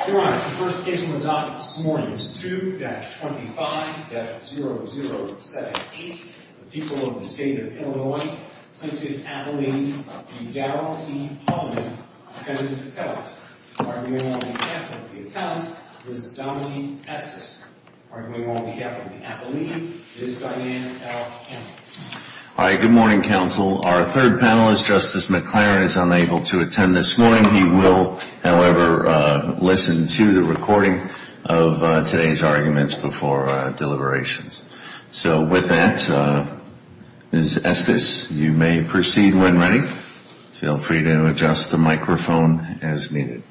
All right. The first case on the docket this morning is 2-25-0078. The people of the state of Illinois plaintiff Abilene v. Daryl E. Holman, defendant of the felons. Arguing on behalf of the felons is Dominique Estes. Arguing on behalf of the Abilene is Diane L. Ennis. All right. Good morning, counsel. Our third panelist, Justice McClaren, is unable to attend this morning. He will, however, listen to the recording of today's arguments before deliberations. So with that, Ms. Estes, you may proceed when ready. Feel free to adjust the microphone as needed.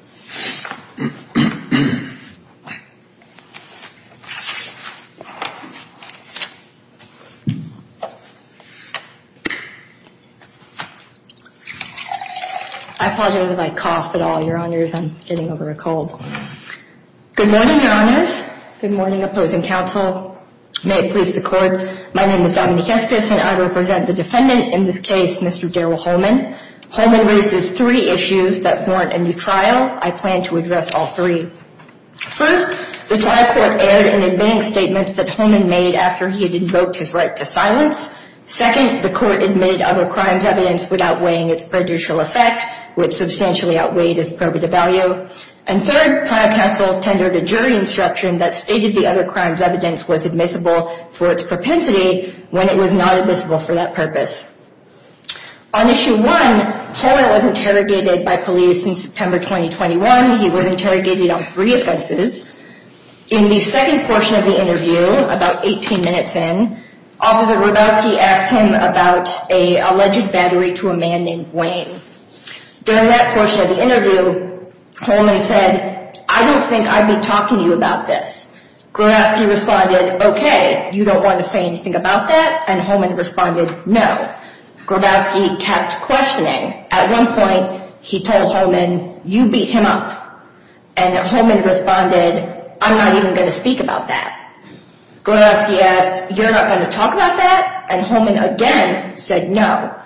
I apologize if I cough at all, Your Honors. I'm getting over a cold. Good morning, Your Honors. Good morning, opposing counsel. May it please the Court. My name is Dominique Estes, and I represent the defendant in this case, Mr. Daryl Holman. Holman raises three issues that warrant a new trial. I plan to address all three. First, the trial court erred in admitting statements that Holman made after he had invoked his right to silence. Second, the court admitted other crimes' evidence without weighing its prejudicial effect, which substantially outweighed his prerogative value. And third, trial counsel tendered a jury instruction that stated the other crime's evidence was admissible for its propensity when it was not admissible for that purpose. On Issue 1, Holman was interrogated by police in September 2021. He was interrogated on three offenses. In the second portion of the interview, about 18 minutes in, Officer Hrabowski asked him about an alleged battery to a man named Wayne. During that portion of the interview, Holman said, I don't think I'd be talking to you about this. Hrabowski responded, okay, you don't want to say anything about that? And Holman responded, no. Hrabowski kept questioning. At one point, he told Holman, you beat him up. And Holman responded, I'm not even going to speak about that. Hrabowski asked, you're not going to talk about that? And Holman again said no.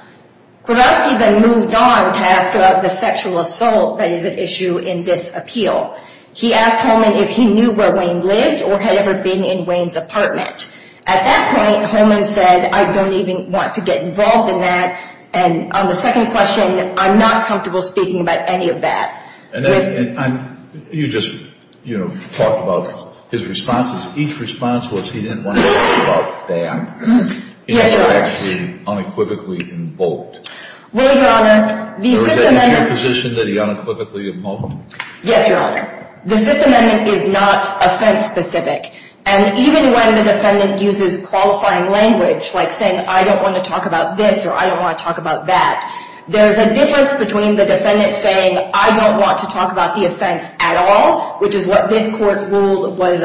Hrabowski then moved on to ask about the sexual assault that is at issue in this appeal. He asked Holman if he knew where Wayne lived or had ever been in Wayne's apartment. At that point, Holman said, I don't even want to get involved in that. And on the second question, I'm not comfortable speaking about any of that. You just, you know, talked about his responses. Each response was he didn't want to talk about that. Yes, Your Honor. It's actually unequivocally invoked. Well, Your Honor, the Fifth Amendment. Or is that your position, that he unequivocally invoked? Yes, Your Honor. The Fifth Amendment is not offense-specific. And even when the defendant uses qualifying language, like saying, I don't want to talk about this or I don't want to talk about that, there's a difference between the defendant saying, I don't want to talk about the offense at all, which is what this court ruled was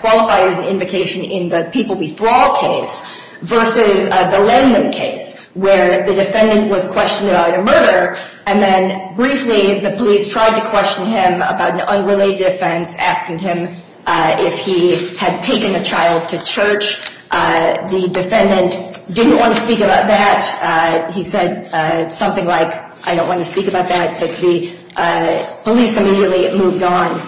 qualified as an invocation in the People v. Thrall case, versus the Lendlum case, where the defendant was questioned about a murder, and then briefly the police tried to question him about an unrelated offense, asking him if he had taken a child to church. The defendant didn't want to speak about that. He said something like, I don't want to speak about that. The police immediately moved on.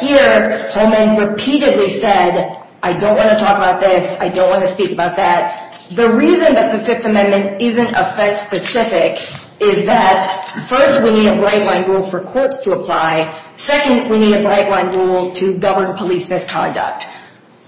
Here, Holman repeatedly said, I don't want to talk about this. I don't want to speak about that. The reason that the Fifth Amendment isn't offense-specific is that, first, we need a bright-line rule for courts to apply. Second, we need a bright-line rule to govern police misconduct.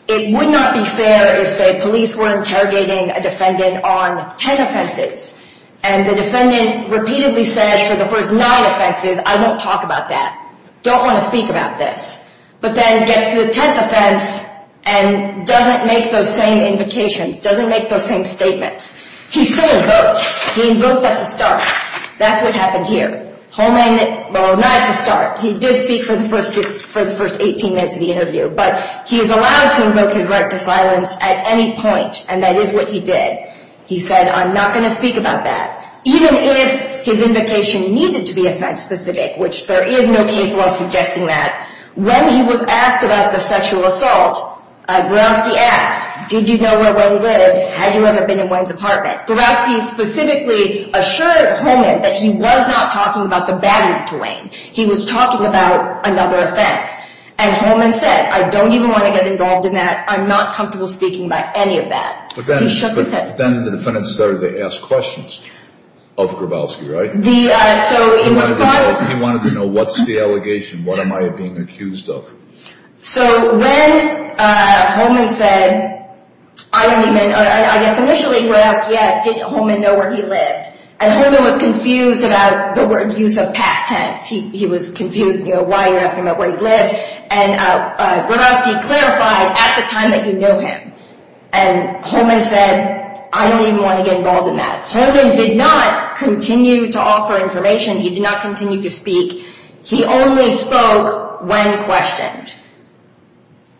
It would not be fair if, say, police were interrogating a defendant on ten offenses, and the defendant repeatedly said for the first nine offenses, I don't talk about that. Don't want to speak about this. But then gets to the tenth offense and doesn't make those same invocations, doesn't make those same statements. He still invoked. He invoked at the start. That's what happened here. Holman, well, not at the start. He did speak for the first 18 minutes of the interview, but he is allowed to invoke his right to silence at any point, and that is what he did. He said, I'm not going to speak about that. Even if his invocation needed to be offense-specific, which there is no case law suggesting that, when he was asked about the sexual assault, Verowski asked, did you know where Wayne lived? Had you ever been in Wayne's apartment? Verowski specifically assured Holman that he was not talking about the battery to Wayne. He was talking about another offense. And Holman said, I don't even want to get involved in that. I'm not comfortable speaking about any of that. He shook his head. But then the defendant started to ask questions of Verowski, right? He wanted to know, what's the allegation? What am I being accused of? So when Holman said, I don't even – I guess initially he would ask, yes, did Holman know where he lived? And Holman was confused about the word use of past tense. He was confused why you're asking about where he lived. And Verowski clarified, at the time that you know him. And Holman said, I don't even want to get involved in that. Holman did not continue to offer information. He did not continue to speak. He only spoke when questioned.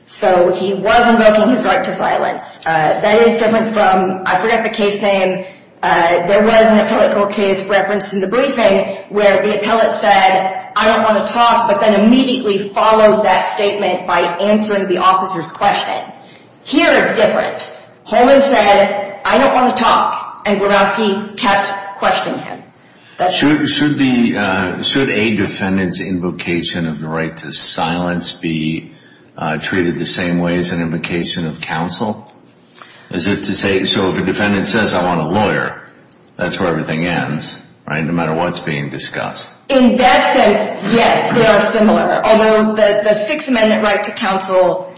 So he was invoking his right to silence. That is different from – I forget the case name. There was an appellate court case referenced in the briefing where the appellate said, I don't want to talk, but then immediately followed that statement by answering the officer's question. Here it's different. Holman said, I don't want to talk. And Verowski kept questioning him. Should a defendant's invocation of the right to silence be treated the same way as an invocation of counsel? As if to say – so if a defendant says, I want a lawyer, that's where everything ends, right? No matter what's being discussed. In that sense, yes, they are similar. Although the Sixth Amendment right to counsel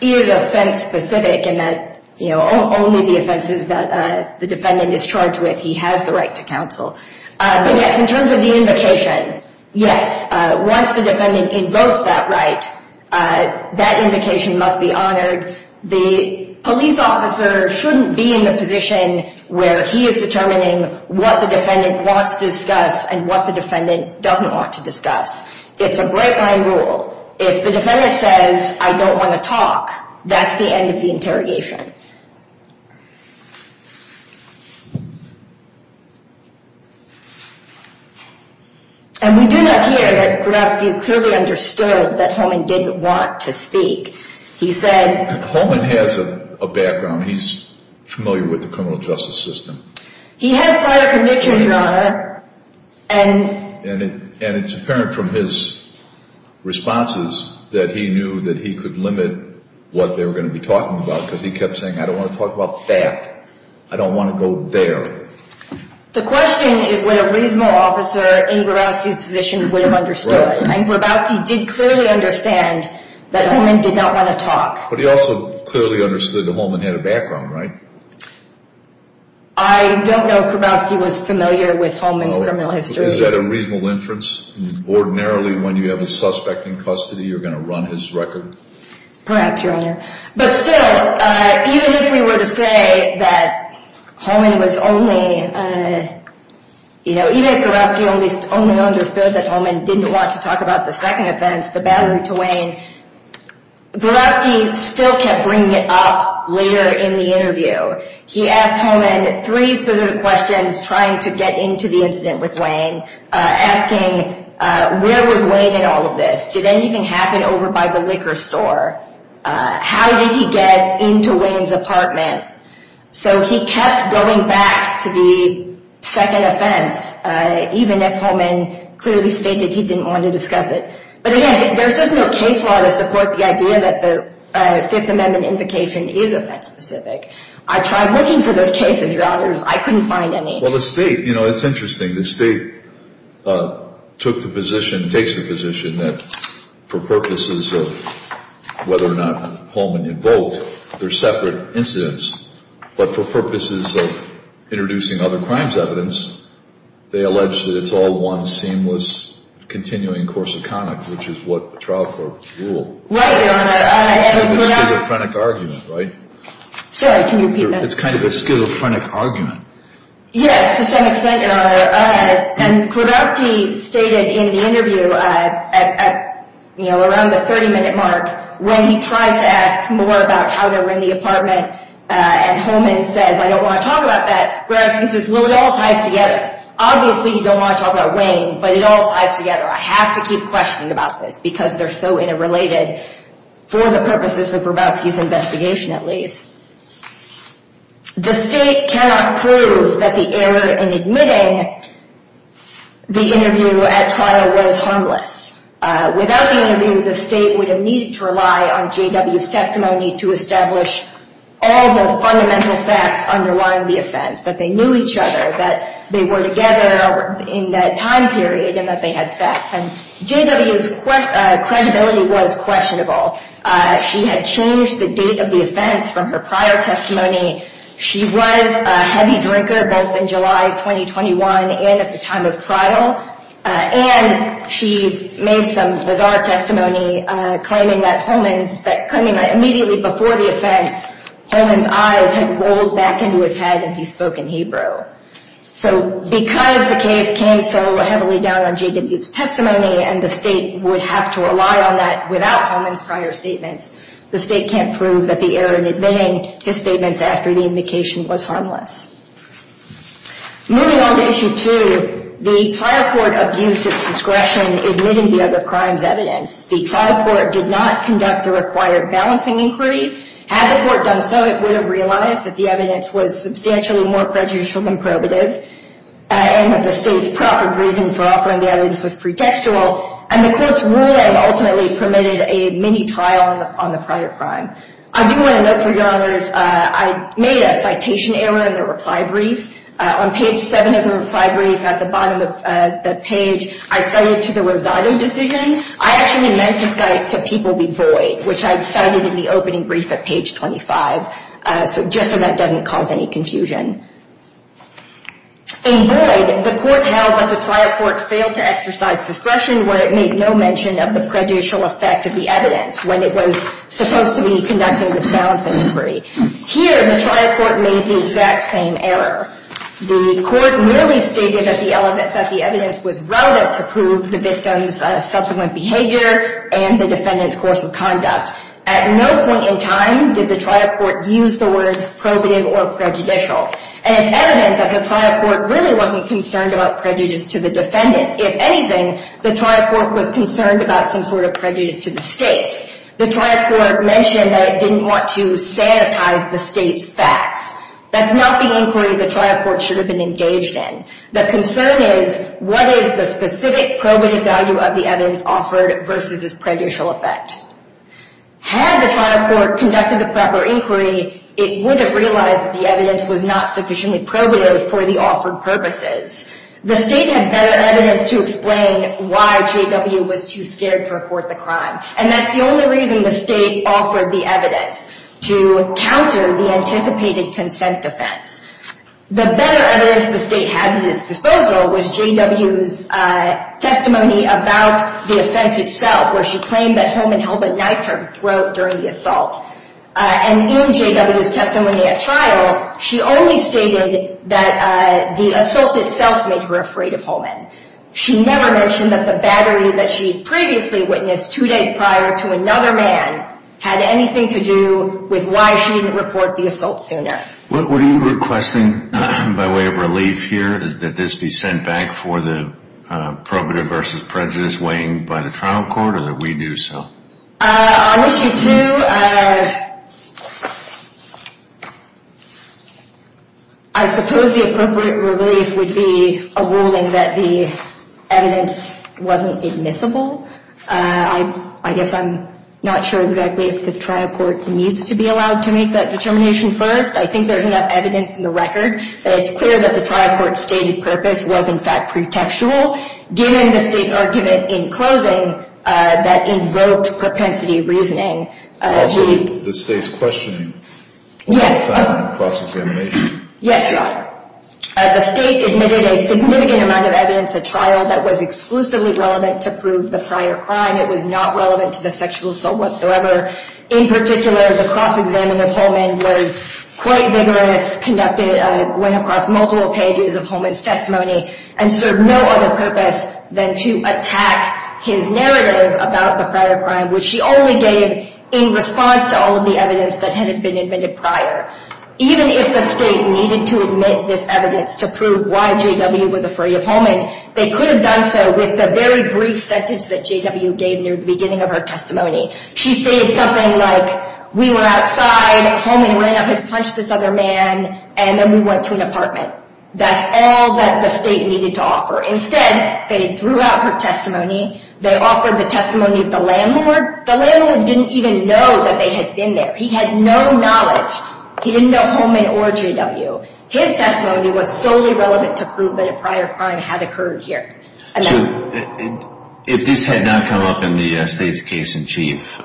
is offense-specific in that only the offenses that the defendant is charged with he has the right to counsel. But, yes, in terms of the invocation, yes. Once the defendant invokes that right, that invocation must be honored. The police officer shouldn't be in the position where he is determining what the defendant wants to discuss and what the defendant doesn't want to discuss. It's a break-line rule. If the defendant says, I don't want to talk, that's the end of the interrogation. And we do not hear that Verowski clearly understood that Holman didn't want to speak. He said – Holman has a background. He's familiar with the criminal justice system. He has prior convictions, Your Honor, and – And it's apparent from his responses that he knew that he could limit what they were going to be talking about because he kept saying, I don't want to talk about that. I don't want to go there. The question is whether a reasonable officer in Verowski's position would have understood. And Verowski did clearly understand that Holman did not want to talk. But he also clearly understood that Holman had a background, right? I don't know if Verowski was familiar with Holman's criminal history. Is that a reasonable inference? Ordinarily, when you have a suspect in custody, you're going to run his record? Perhaps, Your Honor. But still, even if we were to say that Holman was only –– to talk about the second offense, the battery to Wayne, Verowski still kept bringing it up later in the interview. He asked Holman three specific questions trying to get into the incident with Wayne, asking where was Wayne in all of this. Did anything happen over by the liquor store? How did he get into Wayne's apartment? So he kept going back to the second offense, even if Holman clearly stated he didn't want to discuss it. But, again, there's just no case law to support the idea that the Fifth Amendment invocation is offense specific. I tried looking for those cases, Your Honors. I couldn't find any. Well, the State, you know, it's interesting. The State took the position, takes the position that for purposes of whether or not Holman invoked their separate incidents, but for purposes of introducing other crimes evidence, they allege that it's all one seamless continuing course of conduct, which is what the trial court ruled. Right, Your Honor. It's kind of a schizophrenic argument, right? Sorry, can you repeat that? It's kind of a schizophrenic argument. Yes, to some extent, Your Honor. And Verowski stated in the interview, you know, around the 30-minute mark, when he tries to ask more about how they were in the apartment, and Holman says, I don't want to talk about that. Verowski says, well, it all ties together. Obviously, you don't want to talk about Wayne, but it all ties together. I have to keep questioning about this because they're so interrelated, for the purposes of Verowski's investigation, at least. The State cannot prove that the error in admitting the interview at trial was harmless. Without the interview, the State would have needed to rely on J.W.'s testimony to establish all the fundamental facts underlying the offense, that they knew each other, that they were together in that time period, and that they had sex. And J.W.'s credibility was questionable. She had changed the date of the offense from her prior testimony. She was a heavy drinker, both in July 2021 and at the time of trial. And she made some bizarre testimony claiming that Holman's, claiming that immediately before the offense, Holman's eyes had rolled back into his head and he spoke in Hebrew. So because the case came so heavily down on J.W.'s testimony, and the State would have to rely on that without Holman's prior statements, the State can't prove that the error in admitting his statements after the indication was harmless. Moving on to Issue 2, the trial court abused its discretion in admitting the other crime's evidence. The trial court did not conduct the required balancing inquiry. Had the court done so, it would have realized that the evidence was substantially more prejudicial than probative, and that the State's proper reason for offering the evidence was pretextual, and the Court's ruling ultimately permitted a mini-trial on the prior crime. I do want to note, for your honors, I made a citation error, in the reply brief. On page 7 of the reply brief, at the bottom of the page, I cited to the Rosado decision. I actually meant to cite to People v. Boyd, which I'd cited in the opening brief at page 25, just so that doesn't cause any confusion. In Boyd, the court held that the trial court failed to exercise discretion where it made no mention of the prejudicial effect of the evidence when it was supposed to be conducting this balancing inquiry. Here, the trial court made the exact same error. The court merely stated that the evidence was relative to prove the victim's subsequent behavior and the defendant's course of conduct. At no point in time did the trial court use the words probative or prejudicial. And it's evident that the trial court really wasn't concerned about prejudice to the defendant. If anything, the trial court was concerned about some sort of prejudice to the State. The trial court mentioned that it didn't want to sanitize the State's facts. That's not the inquiry the trial court should have been engaged in. The concern is, what is the specific probative value of the evidence offered versus its prejudicial effect? Had the trial court conducted the proper inquiry, it would have realized that the evidence was not sufficiently probative for the offered purposes. The State had better evidence to explain why J.W. was too scared to report the crime. And that's the only reason the State offered the evidence, to counter the anticipated consent defense. The better evidence the State had at its disposal was J.W.'s testimony about the offense itself, where she claimed that Holman held a knife to her throat during the assault. And in J.W.'s testimony at trial, she only stated that the assault itself made her afraid of Holman. She never mentioned that the battery that she previously witnessed two days prior to another man had anything to do with why she didn't report the assault sooner. What are you requesting by way of relief here? That this be sent back for the probative versus prejudice weighing by the trial court, or that we do so? I wish you two... I suppose the appropriate relief would be a ruling that the evidence wasn't admissible. I guess I'm not sure exactly if the trial court needs to be allowed to make that determination first. I think there's enough evidence in the record that it's clear that the trial court's stated purpose was in fact pretextual, given the State's argument in closing that invoked propensity reasoning. Also, the State's questioning on assignment and cross-examination. Yes, Your Honor. The State admitted a significant amount of evidence at trial that was exclusively relevant to prove the prior crime. It was not relevant to the sexual assault whatsoever. In particular, the cross-examination of Holman was quite vigorous, conducted, went across multiple pages of Holman's testimony, and served no other purpose than to attack his narrative about the prior crime, which she only gave in response to all of the evidence that had been admitted prior. Even if the State needed to admit this evidence to prove why J.W. was afraid of Holman, they could have done so with the very brief sentence that J.W. gave near the beginning of her testimony. She said something like, we were outside, Holman ran up and punched this other man, and then we went to an apartment. That's all that the State needed to offer. Instead, they threw out her testimony. They offered the testimony of the landlord. The landlord didn't even know that they had been there. He had no knowledge. He didn't know Holman or J.W. His testimony was solely relevant to prove that a prior crime had occurred here. If this had not come up in the State's case in chief,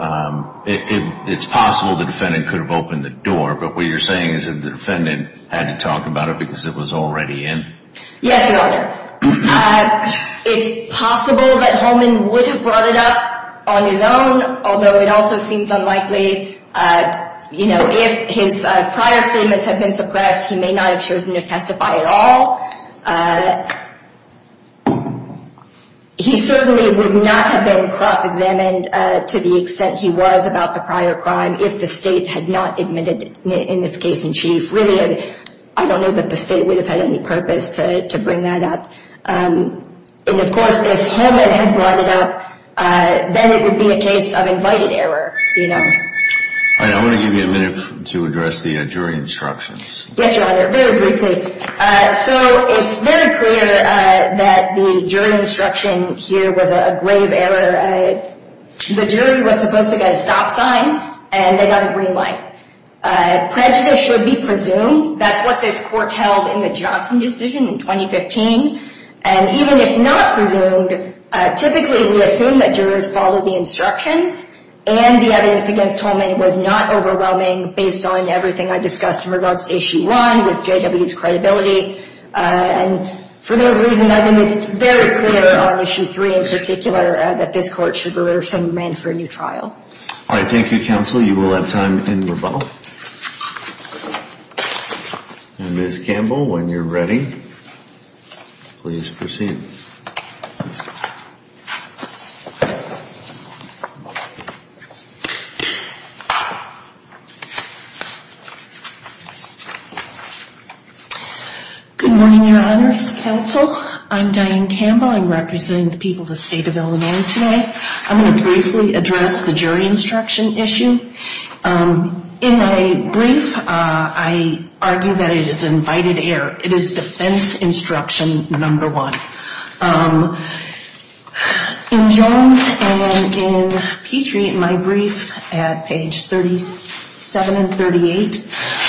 it's possible the defendant could have opened the door, but what you're saying is that the defendant had to talk about it because it was already in? Yes, Your Honor. It's possible that Holman would have brought it up on his own, although it also seems unlikely. If his prior statements had been suppressed, he may not have chosen to testify at all. He certainly would not have been cross-examined to the extent he was about the prior crime if the State had not admitted it in this case in chief. I don't know that the State would have had any purpose to bring that up. Of course, if Holman had brought it up, then it would be a case of invited error. I want to give you a minute to address the jury instructions. Yes, Your Honor, very briefly. It's very clear that the jury instruction here was a grave error. The jury was supposed to get a stop sign, and they got a green light. Prejudice should be presumed. That's what this court held in the Johnson decision in 2015. And even if not presumed, typically we assume that jurors follow the instructions, and the evidence against Holman was not overwhelming based on everything I discussed in regards to Issue 1 with J.W.'s credibility. And for those reasons, I think it's very clear on Issue 3 in particular that this court should be ready for a new trial. All right, thank you, Counsel. You will have time in rebuttal. Ms. Campbell, when you're ready, please proceed. Good morning, Your Honors, Counsel. I'm Diane Campbell. I'm representing the people of the State of Illinois today. I'm going to briefly address the jury instruction issue. In my brief, I argue that it is an invited error. It is defense instruction number one. In Jones and in Petrie, in my brief at page 37 and 38,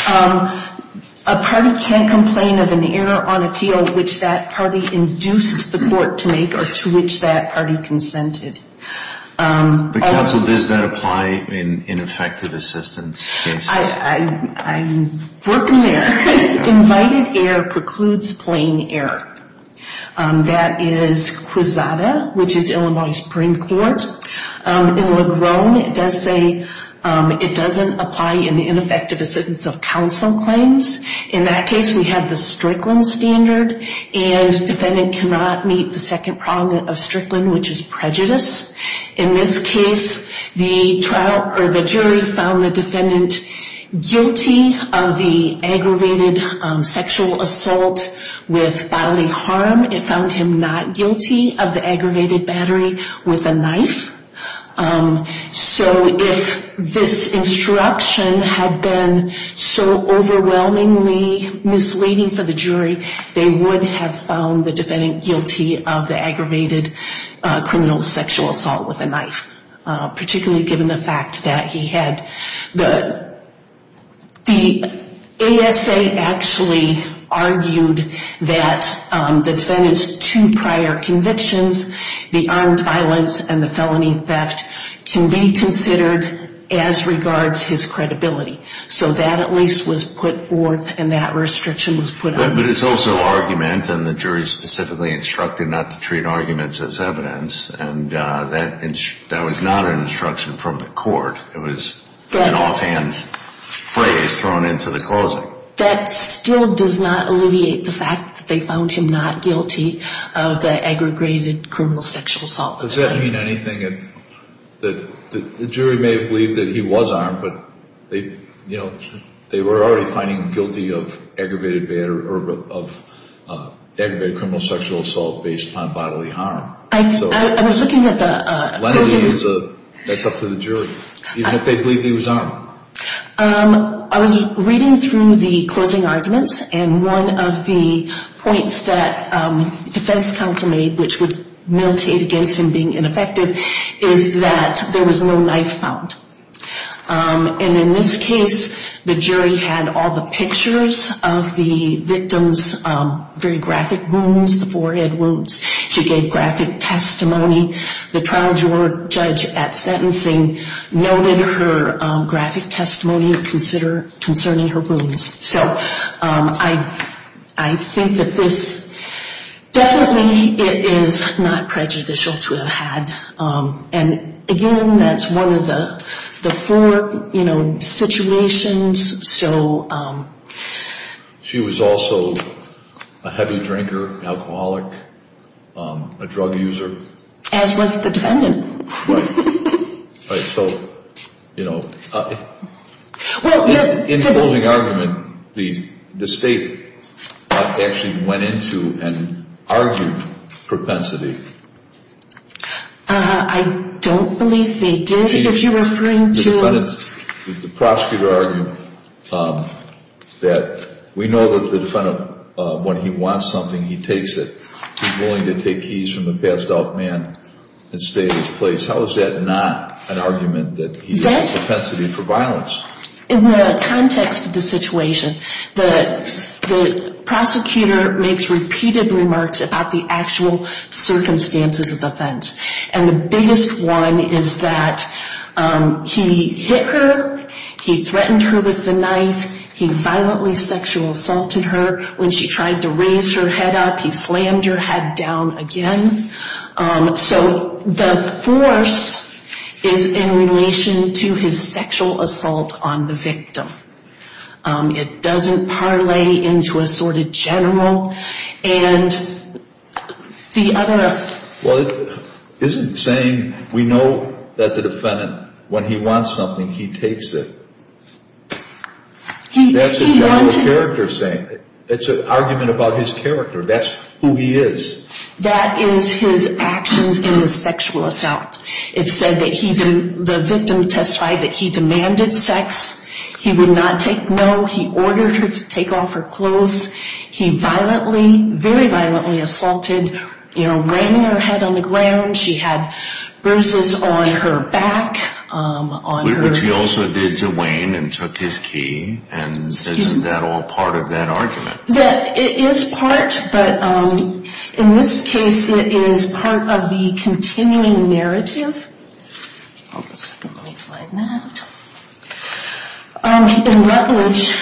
a party can't complain of an error on appeal which that party induced the court to make or to which that party consented. But, Counsel, does that apply in ineffective assistance cases? I'm working there. Invited error precludes plain error. That is Quisada, which is Illinois Supreme Court. In LeGrone, it does say it doesn't apply in the ineffective assistance of counsel claims. In that case, we have the Strickland standard, and defendant cannot meet the second problem of Strickland, which is prejudice. In this case, the jury found the defendant guilty of the aggravated sexual assault with bodily harm. It found him not guilty of the aggravated battery with a knife. So if this instruction had been so overwhelmingly misleading for the jury, they would have found the defendant guilty of the aggravated criminal sexual assault with a knife, particularly given the fact that he had the ASA actually argued that the defendant's two prior convictions, the armed violence and the felony theft, can be considered as regards his credibility. So that at least was put forth, and that restriction was put up. But it's also argument, and the jury specifically instructed not to treat arguments as evidence, and that was not an instruction from the court. It was an offhand phrase thrown into the closing. So that still does not alleviate the fact that they found him not guilty of the aggravated criminal sexual assault with a knife. Does that mean anything? The jury may have believed that he was armed, but they were already finding him guilty of aggravated criminal sexual assault based upon bodily harm. I was looking at the version. That's up to the jury, even if they believe he was armed. I was reading through the closing arguments, and one of the points that defense counsel made, which would militate against him being ineffective, is that there was no knife found. And in this case, the jury had all the pictures of the victim's very graphic wounds, the forehead wounds. She gave graphic testimony. The trial jury judge at sentencing noted her graphic testimony concerning her wounds. So I think that this definitely is not prejudicial to have had. And, again, that's one of the four, you know, situations. She was also a heavy drinker, an alcoholic, a drug user. As was the defendant. Right. So, you know, in the closing argument, the state actually went into and argued propensity. I don't believe they did, if you're referring to. The prosecutor argued that we know that the defendant, when he wants something, he takes it. He's willing to take keys from a passed out man and stay in his place. How is that not an argument that he's a propensity for violence? In the context of the situation, the prosecutor makes repeated remarks about the actual circumstances of offense. And the biggest one is that he hit her. He threatened her with the knife. He violently sexual assaulted her. When she tried to raise her head up, he slammed her head down again. So the force is in relation to his sexual assault on the victim. It doesn't parlay into a sort of general. Well, it isn't saying we know that the defendant, when he wants something, he takes it. That's a general character thing. It's an argument about his character. That's who he is. That is his actions in the sexual assault. It said that the victim testified that he demanded sex. He would not take no. He ordered her to take off her clothes. He violently, very violently assaulted. You know, ran her head on the ground. She had bruises on her back. Which he also did to Wayne and took his key. And isn't that all part of that argument? It is part, but in this case it is part of the continuing narrative. Hold on a second, let me find that. In Rutledge,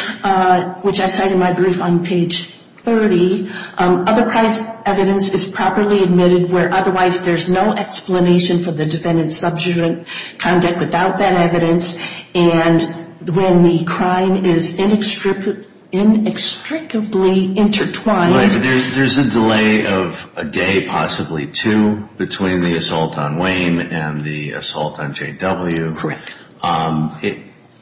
which I cite in my brief on page 30, other price evidence is properly admitted where otherwise there's no explanation for the defendant's subsequent conduct without that evidence. And when the crime is inextricably intertwined. There's a delay of a day, possibly two, between the assault on Wayne and the assault on JW. Correct.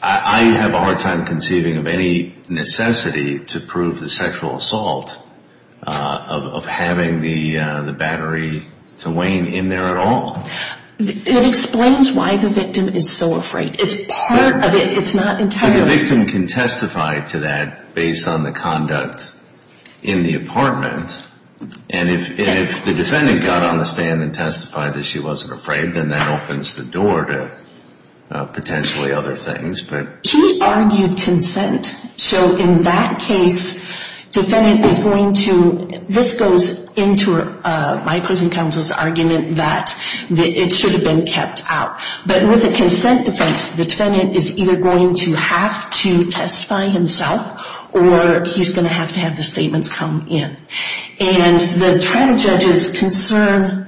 I have a hard time conceiving of any necessity to prove the sexual assault of having the battery to Wayne in there at all. It explains why the victim is so afraid. It's part of it, it's not entirely. The victim can testify to that based on the conduct in the apartment. And if the defendant got on the stand and testified that she wasn't afraid, then that opens the door to potentially other things. He argued consent. So in that case, defendant is going to, this goes into my prison counsel's argument that it should have been kept out. But with a consent defense, the defendant is either going to have to testify himself or he's going to have to have the statements come in. And the trial judge's concern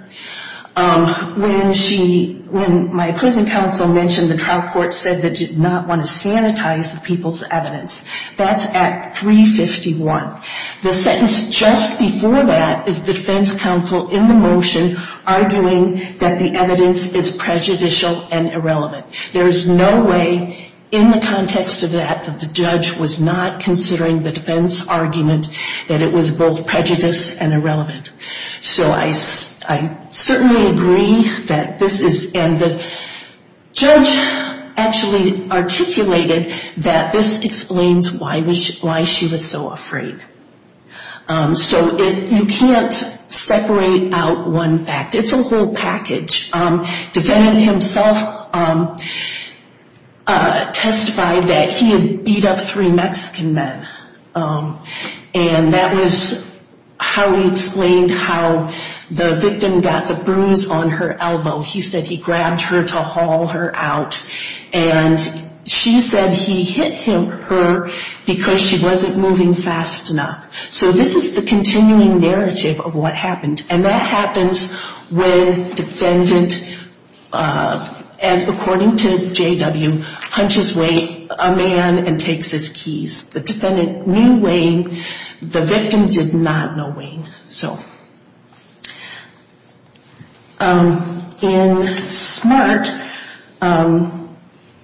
when she, when my prison counsel mentioned the trial court said they did not want to sanitize the people's evidence, that's at 351. The sentence just before that is defense counsel in the motion arguing that the evidence is prejudicial and irrelevant. There's no way in the context of that that the judge was not considering the defense argument that it was both prejudiced and irrelevant. So I certainly agree that this is, and the judge actually articulated that this explains why she was so afraid. So you can't separate out one fact. It's a whole package. Defendant himself testified that he had beat up three Mexican men. And that was how he explained how the victim got the bruise on her elbow. He said he grabbed her to haul her out. And she said he hit her because she wasn't moving fast enough. So this is the continuing narrative of what happened. And that happens when defendant, as according to J.W., hunches away a man and takes his keys. The defendant knew Wayne. The victim did not know Wayne. So in SMART,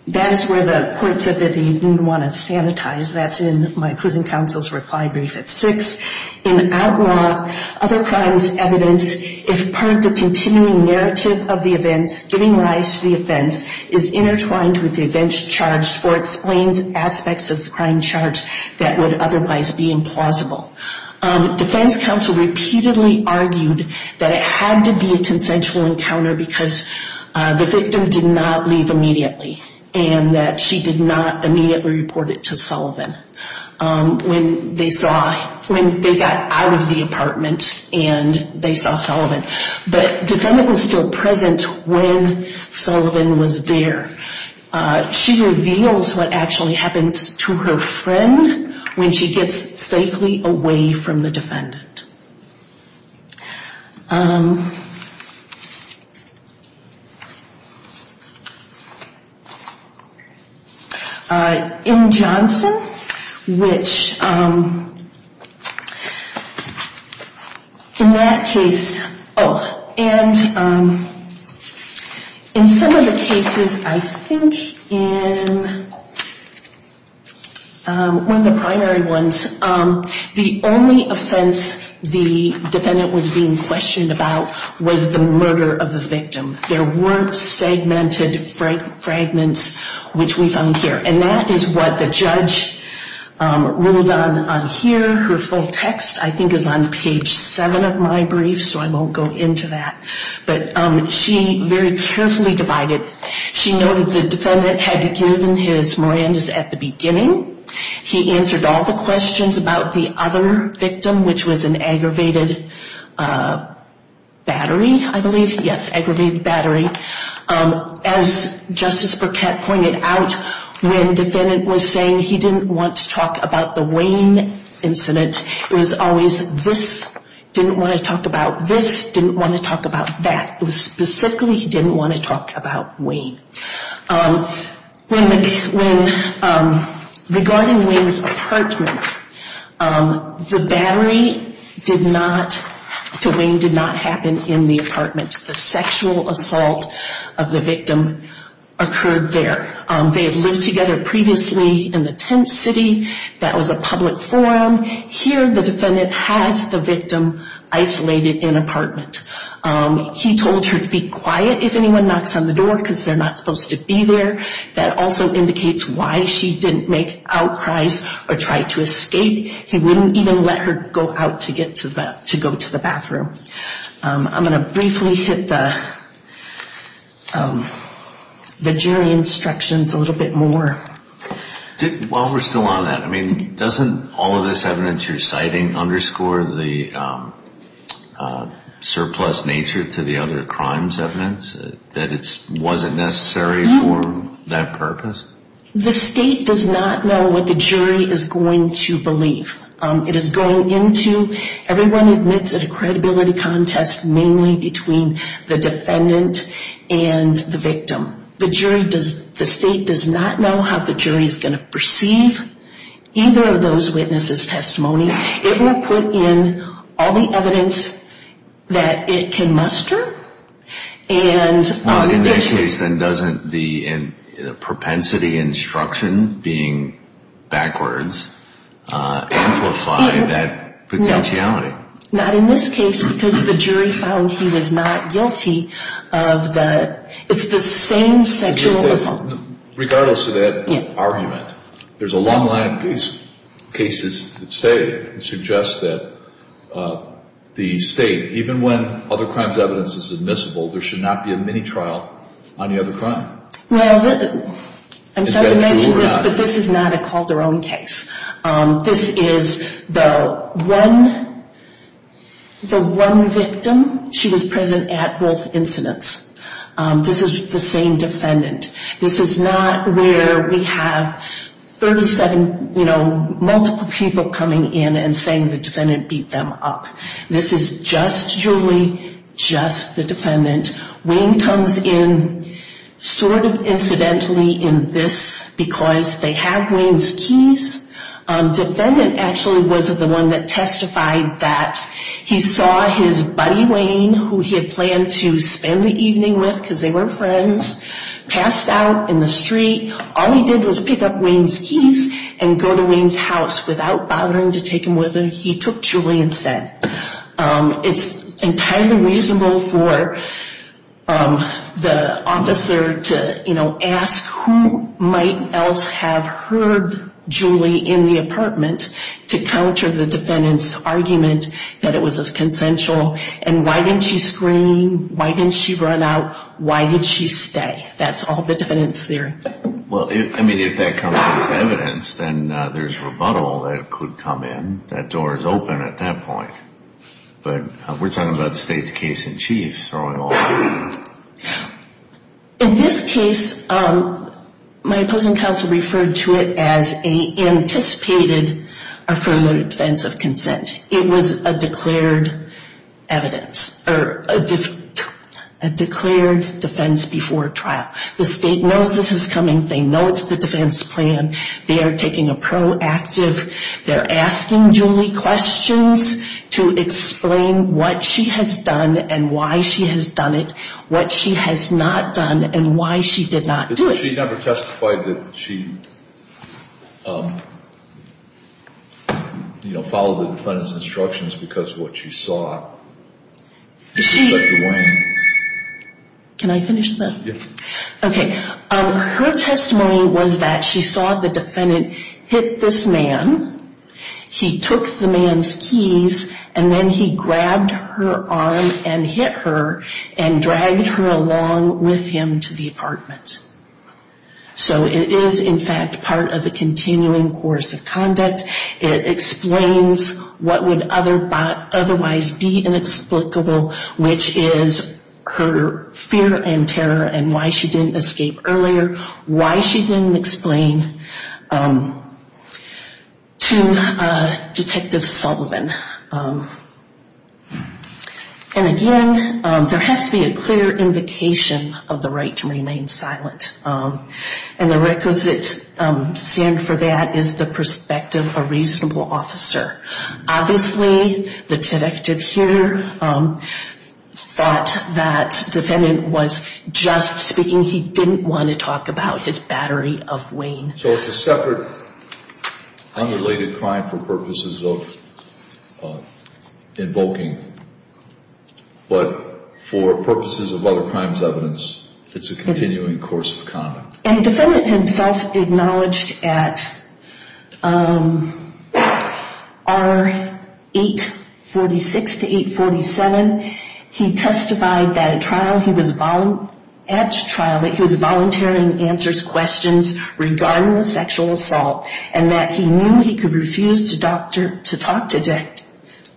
that is where the court said that they didn't want to sanitize. That's in my prison counsel's reply brief at 6. In OUTLAW, other crimes evidence, if part of the continuing narrative of the events giving rise to the offense, is intertwined with the events charged or explains aspects of the crime charged that would otherwise be implausible. Defense counsel repeatedly argued that it had to be a consensual encounter because the victim did not leave immediately. And that she did not immediately report it to Sullivan. When they got out of the apartment and they saw Sullivan. But the defendant was still present when Sullivan was there. She reveals what actually happens to her friend when she gets safely away from the defendant. In Johnson, which in that case, oh, and in some of the cases, I think in one of the primary ones, the only offense the defendant was being questioned about was the murder of the victim. There weren't segmented fragments, which we found here. And that is what the judge ruled on here. Her full text, I think, is on page 7 of my brief, so I won't go into that. But she very carefully divided. She noted the defendant had given his Mirandas at the beginning. He answered all the questions about the other victim, which was an aggravated battery, I believe. Yes, aggravated battery. As Justice Burkett pointed out, when the defendant was saying he didn't want to talk about the Wayne incident, it was always this, didn't want to talk about this, didn't want to talk about that. It was specifically he didn't want to talk about Wayne. Regarding Wayne's apartment, the battery to Wayne did not happen in the apartment. The sexual assault of the victim occurred there. They had lived together previously in the tent city. That was a public forum. Here, the defendant has the victim isolated in an apartment. He told her to be quiet if anyone knocks on the door because they're not supposed to be there. That also indicates why she didn't make outcries or try to escape. He wouldn't even let her go out to go to the bathroom. I'm going to briefly hit the jury instructions a little bit more. While we're still on that, doesn't all of this evidence you're citing underscore the surplus nature to the other crimes evidence, that it wasn't necessary for that purpose? The state does not know what the jury is going to believe. It is going into, everyone admits it, a credibility contest mainly between the defendant and the victim. The state does not know how the jury is going to perceive either of those witnesses' testimony. It will put in all the evidence that it can muster. In this case, then, doesn't the propensity instruction being backwards amplify that potentiality? Not in this case because the jury found he was not guilty of the, it's the same sexual assault. Regardless of that argument, there's a long line of cases that say, that suggest that the state, even when other crimes evidence is admissible, there should not be a mini-trial on the other crime. Well, I'm sorry to mention this, but this is not a Calderon case. This is the one, the one victim, she was present at both incidents. This is the same defendant. This is not where we have 37, you know, multiple people coming in and saying the defendant beat them up. This is just Julie, just the defendant. Wayne comes in sort of incidentally in this because they have Wayne's keys. Defendant actually was the one that testified that he saw his buddy Wayne, who he had planned to spend the evening with because they were friends, passed out in the street. All he did was pick up Wayne's keys and go to Wayne's house without bothering to take him with him. He took Julie instead. It's entirely reasonable for the officer to, you know, ask who might else have heard Julie in the apartment to counter the defendant's argument that it was consensual, and why didn't she scream? Why didn't she run out? Why did she stay? That's all the defendant's theory. Well, I mean, if that comes as evidence, then there's rebuttal that could come in. That door is open at that point. But we're talking about the state's case in chief throwing all that in. In this case, my opposing counsel referred to it as an anticipated affirmative defense of consent. It was a declared evidence or a declared defense before trial. The state knows this is coming. They know it's the defense plan. They are taking a proactive. They're asking Julie questions to explain what she has done and why she has done it, what she has not done, and why she did not do it. She never testified that she, you know, followed the defendant's instructions because of what she saw. She... Inspector Wayne. Can I finish, though? Yes. Okay. Her testimony was that she saw the defendant hit this man. He took the man's keys, and then he grabbed her arm and hit her and dragged her along with him to the apartment. So it is, in fact, part of the continuing course of conduct. It explains what would otherwise be inexplicable, which is her fear and terror and why she didn't escape earlier, why she didn't explain to Detective Sullivan. And again, there has to be a clear invocation of the right to remain silent. And the requisite stand for that is the perspective of a reasonable officer. Obviously, the detective here thought that defendant was just speaking. He didn't want to talk about his battery of Wayne. So it's a separate, unrelated crime for purposes of invoking. But for purposes of other crimes evidence, it's a continuing course of conduct. And the defendant himself acknowledged at R846 to 847, he testified that at trial, he was volunteering answers, questions regarding the sexual assault, and that he knew he could refuse to talk to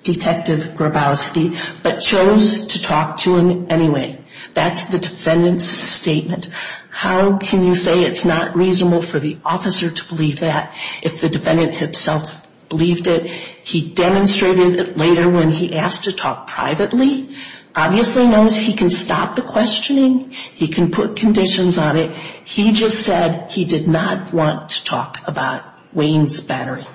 Detective Grabowski, but chose to talk to him anyway. That's the defendant's statement. How can you say it's not reasonable for the officer to believe that if the defendant himself believed it? He demonstrated it later when he asked to talk privately. Obviously knows he can stop the questioning. He can put conditions on it. He just said he did not want to talk about Wayne's battery.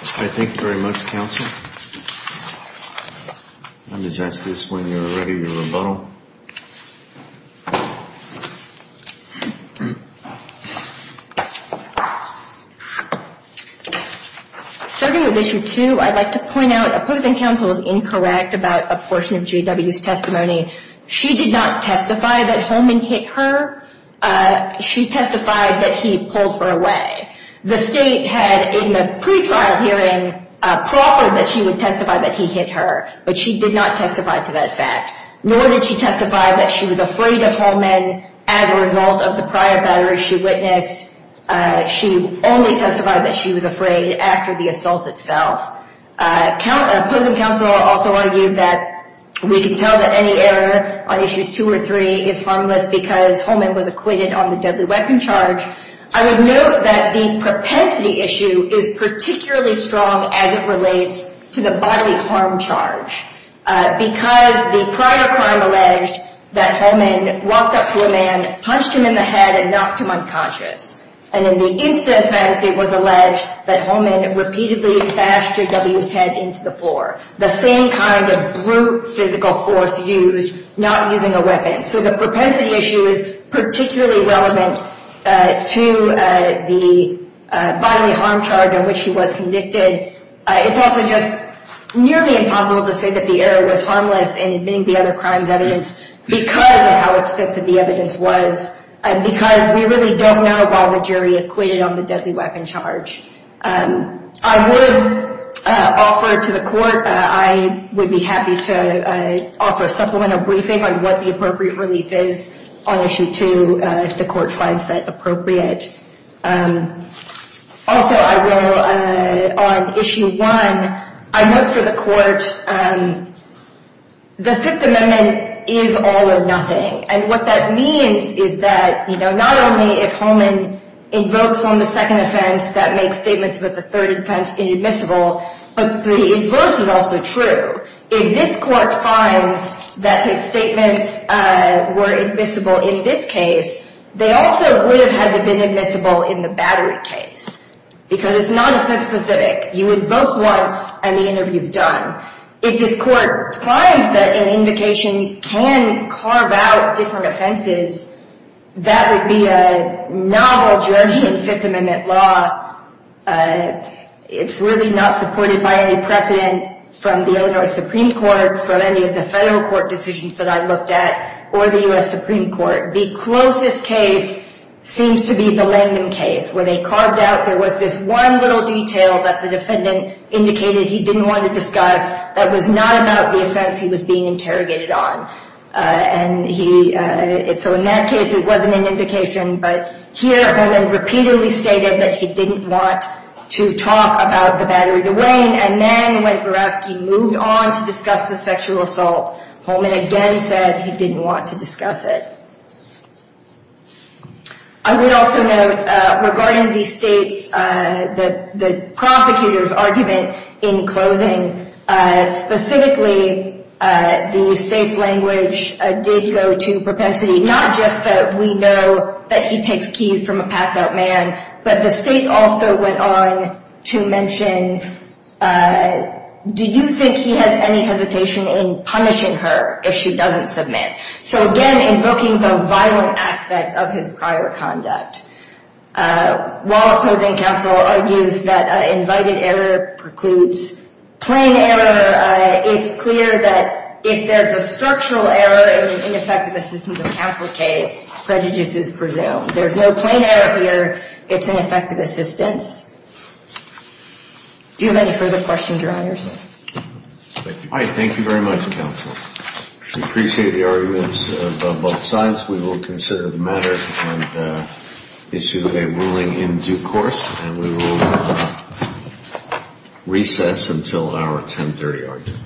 Thank you very much, counsel. Let me just ask this when you're ready to rebuttal. Starting with issue two, I'd like to point out opposing counsel is incorrect about a portion of GW's testimony. She did not testify that Holman hit her. She testified that he pulled her away. The state had in the pretrial hearing proffered that she would testify that he hit her, but she did not testify to that fact, nor did she testify that she was afraid of Holman as a result of the prior battery she witnessed. She only testified that she was afraid after the assault itself. Opposing counsel also argued that we can tell that any error on issues two or three is harmless because Holman was acquitted on the deadly weapon charge. I would note that the propensity issue is particularly strong as it relates to the bodily harm charge because the prior crime alleged that Holman walked up to a man, punched him in the head, and knocked him unconscious. And in the instant offense, it was alleged that Holman repeatedly bashed GW's head into the floor, the same kind of brute physical force used, not using a weapon. So the propensity issue is particularly relevant to the bodily harm charge on which he was convicted. It's also just nearly impossible to say that the error was harmless in admitting the other crime's evidence because of how extensive the evidence was and because we really don't know why the jury acquitted on the deadly weapon charge. I would offer to the court, I would be happy to offer a supplemental briefing on what the appropriate relief is on issue two, if the court finds that appropriate. Also, I will, on issue one, I note for the court, the Fifth Amendment is all or nothing. And what that means is that, you know, not only if Holman invokes on the second offense, that makes statements about the third offense inadmissible, but the inverse is also true. If this court finds that his statements were admissible in this case, they also would have had to have been admissible in the battery case because it's not offense specific. You invoke once and the interview is done. If this court finds that an invocation can carve out different offenses, that would be a novel journey in Fifth Amendment law. It's really not supported by any precedent from the Illinois Supreme Court, from any of the federal court decisions that I looked at, or the U.S. Supreme Court. The closest case seems to be the Langdon case where they carved out, there was this one little detail that the defendant indicated he didn't want to discuss that was not about the offense he was being interrogated on. So in that case, it wasn't an invocation, but here Holman repeatedly stated that he didn't want to talk about the battery to Wayne. And then when Berowski moved on to discuss the sexual assault, Holman again said he didn't want to discuss it. I would also note, regarding the state's, the prosecutor's argument in closing, specifically the state's language did go to propensity, not just that we know that he takes keys from a passed out man, but the state also went on to mention, do you think he has any hesitation in punishing her if she doesn't submit? So again, invoking the violent aspect of his prior conduct. While opposing counsel argues that invited error precludes plain error, it's clear that if there's a structural error in an ineffective assistance of counsel case, prejudice is presumed. There's no plain error here. It's ineffective assistance. Do you have any further questions, Your Honors? I thank you very much, Counsel. We appreciate the arguments of both sides. With that, we will consider the matter and issue a ruling in due course. And we will recess until our 1030 argument.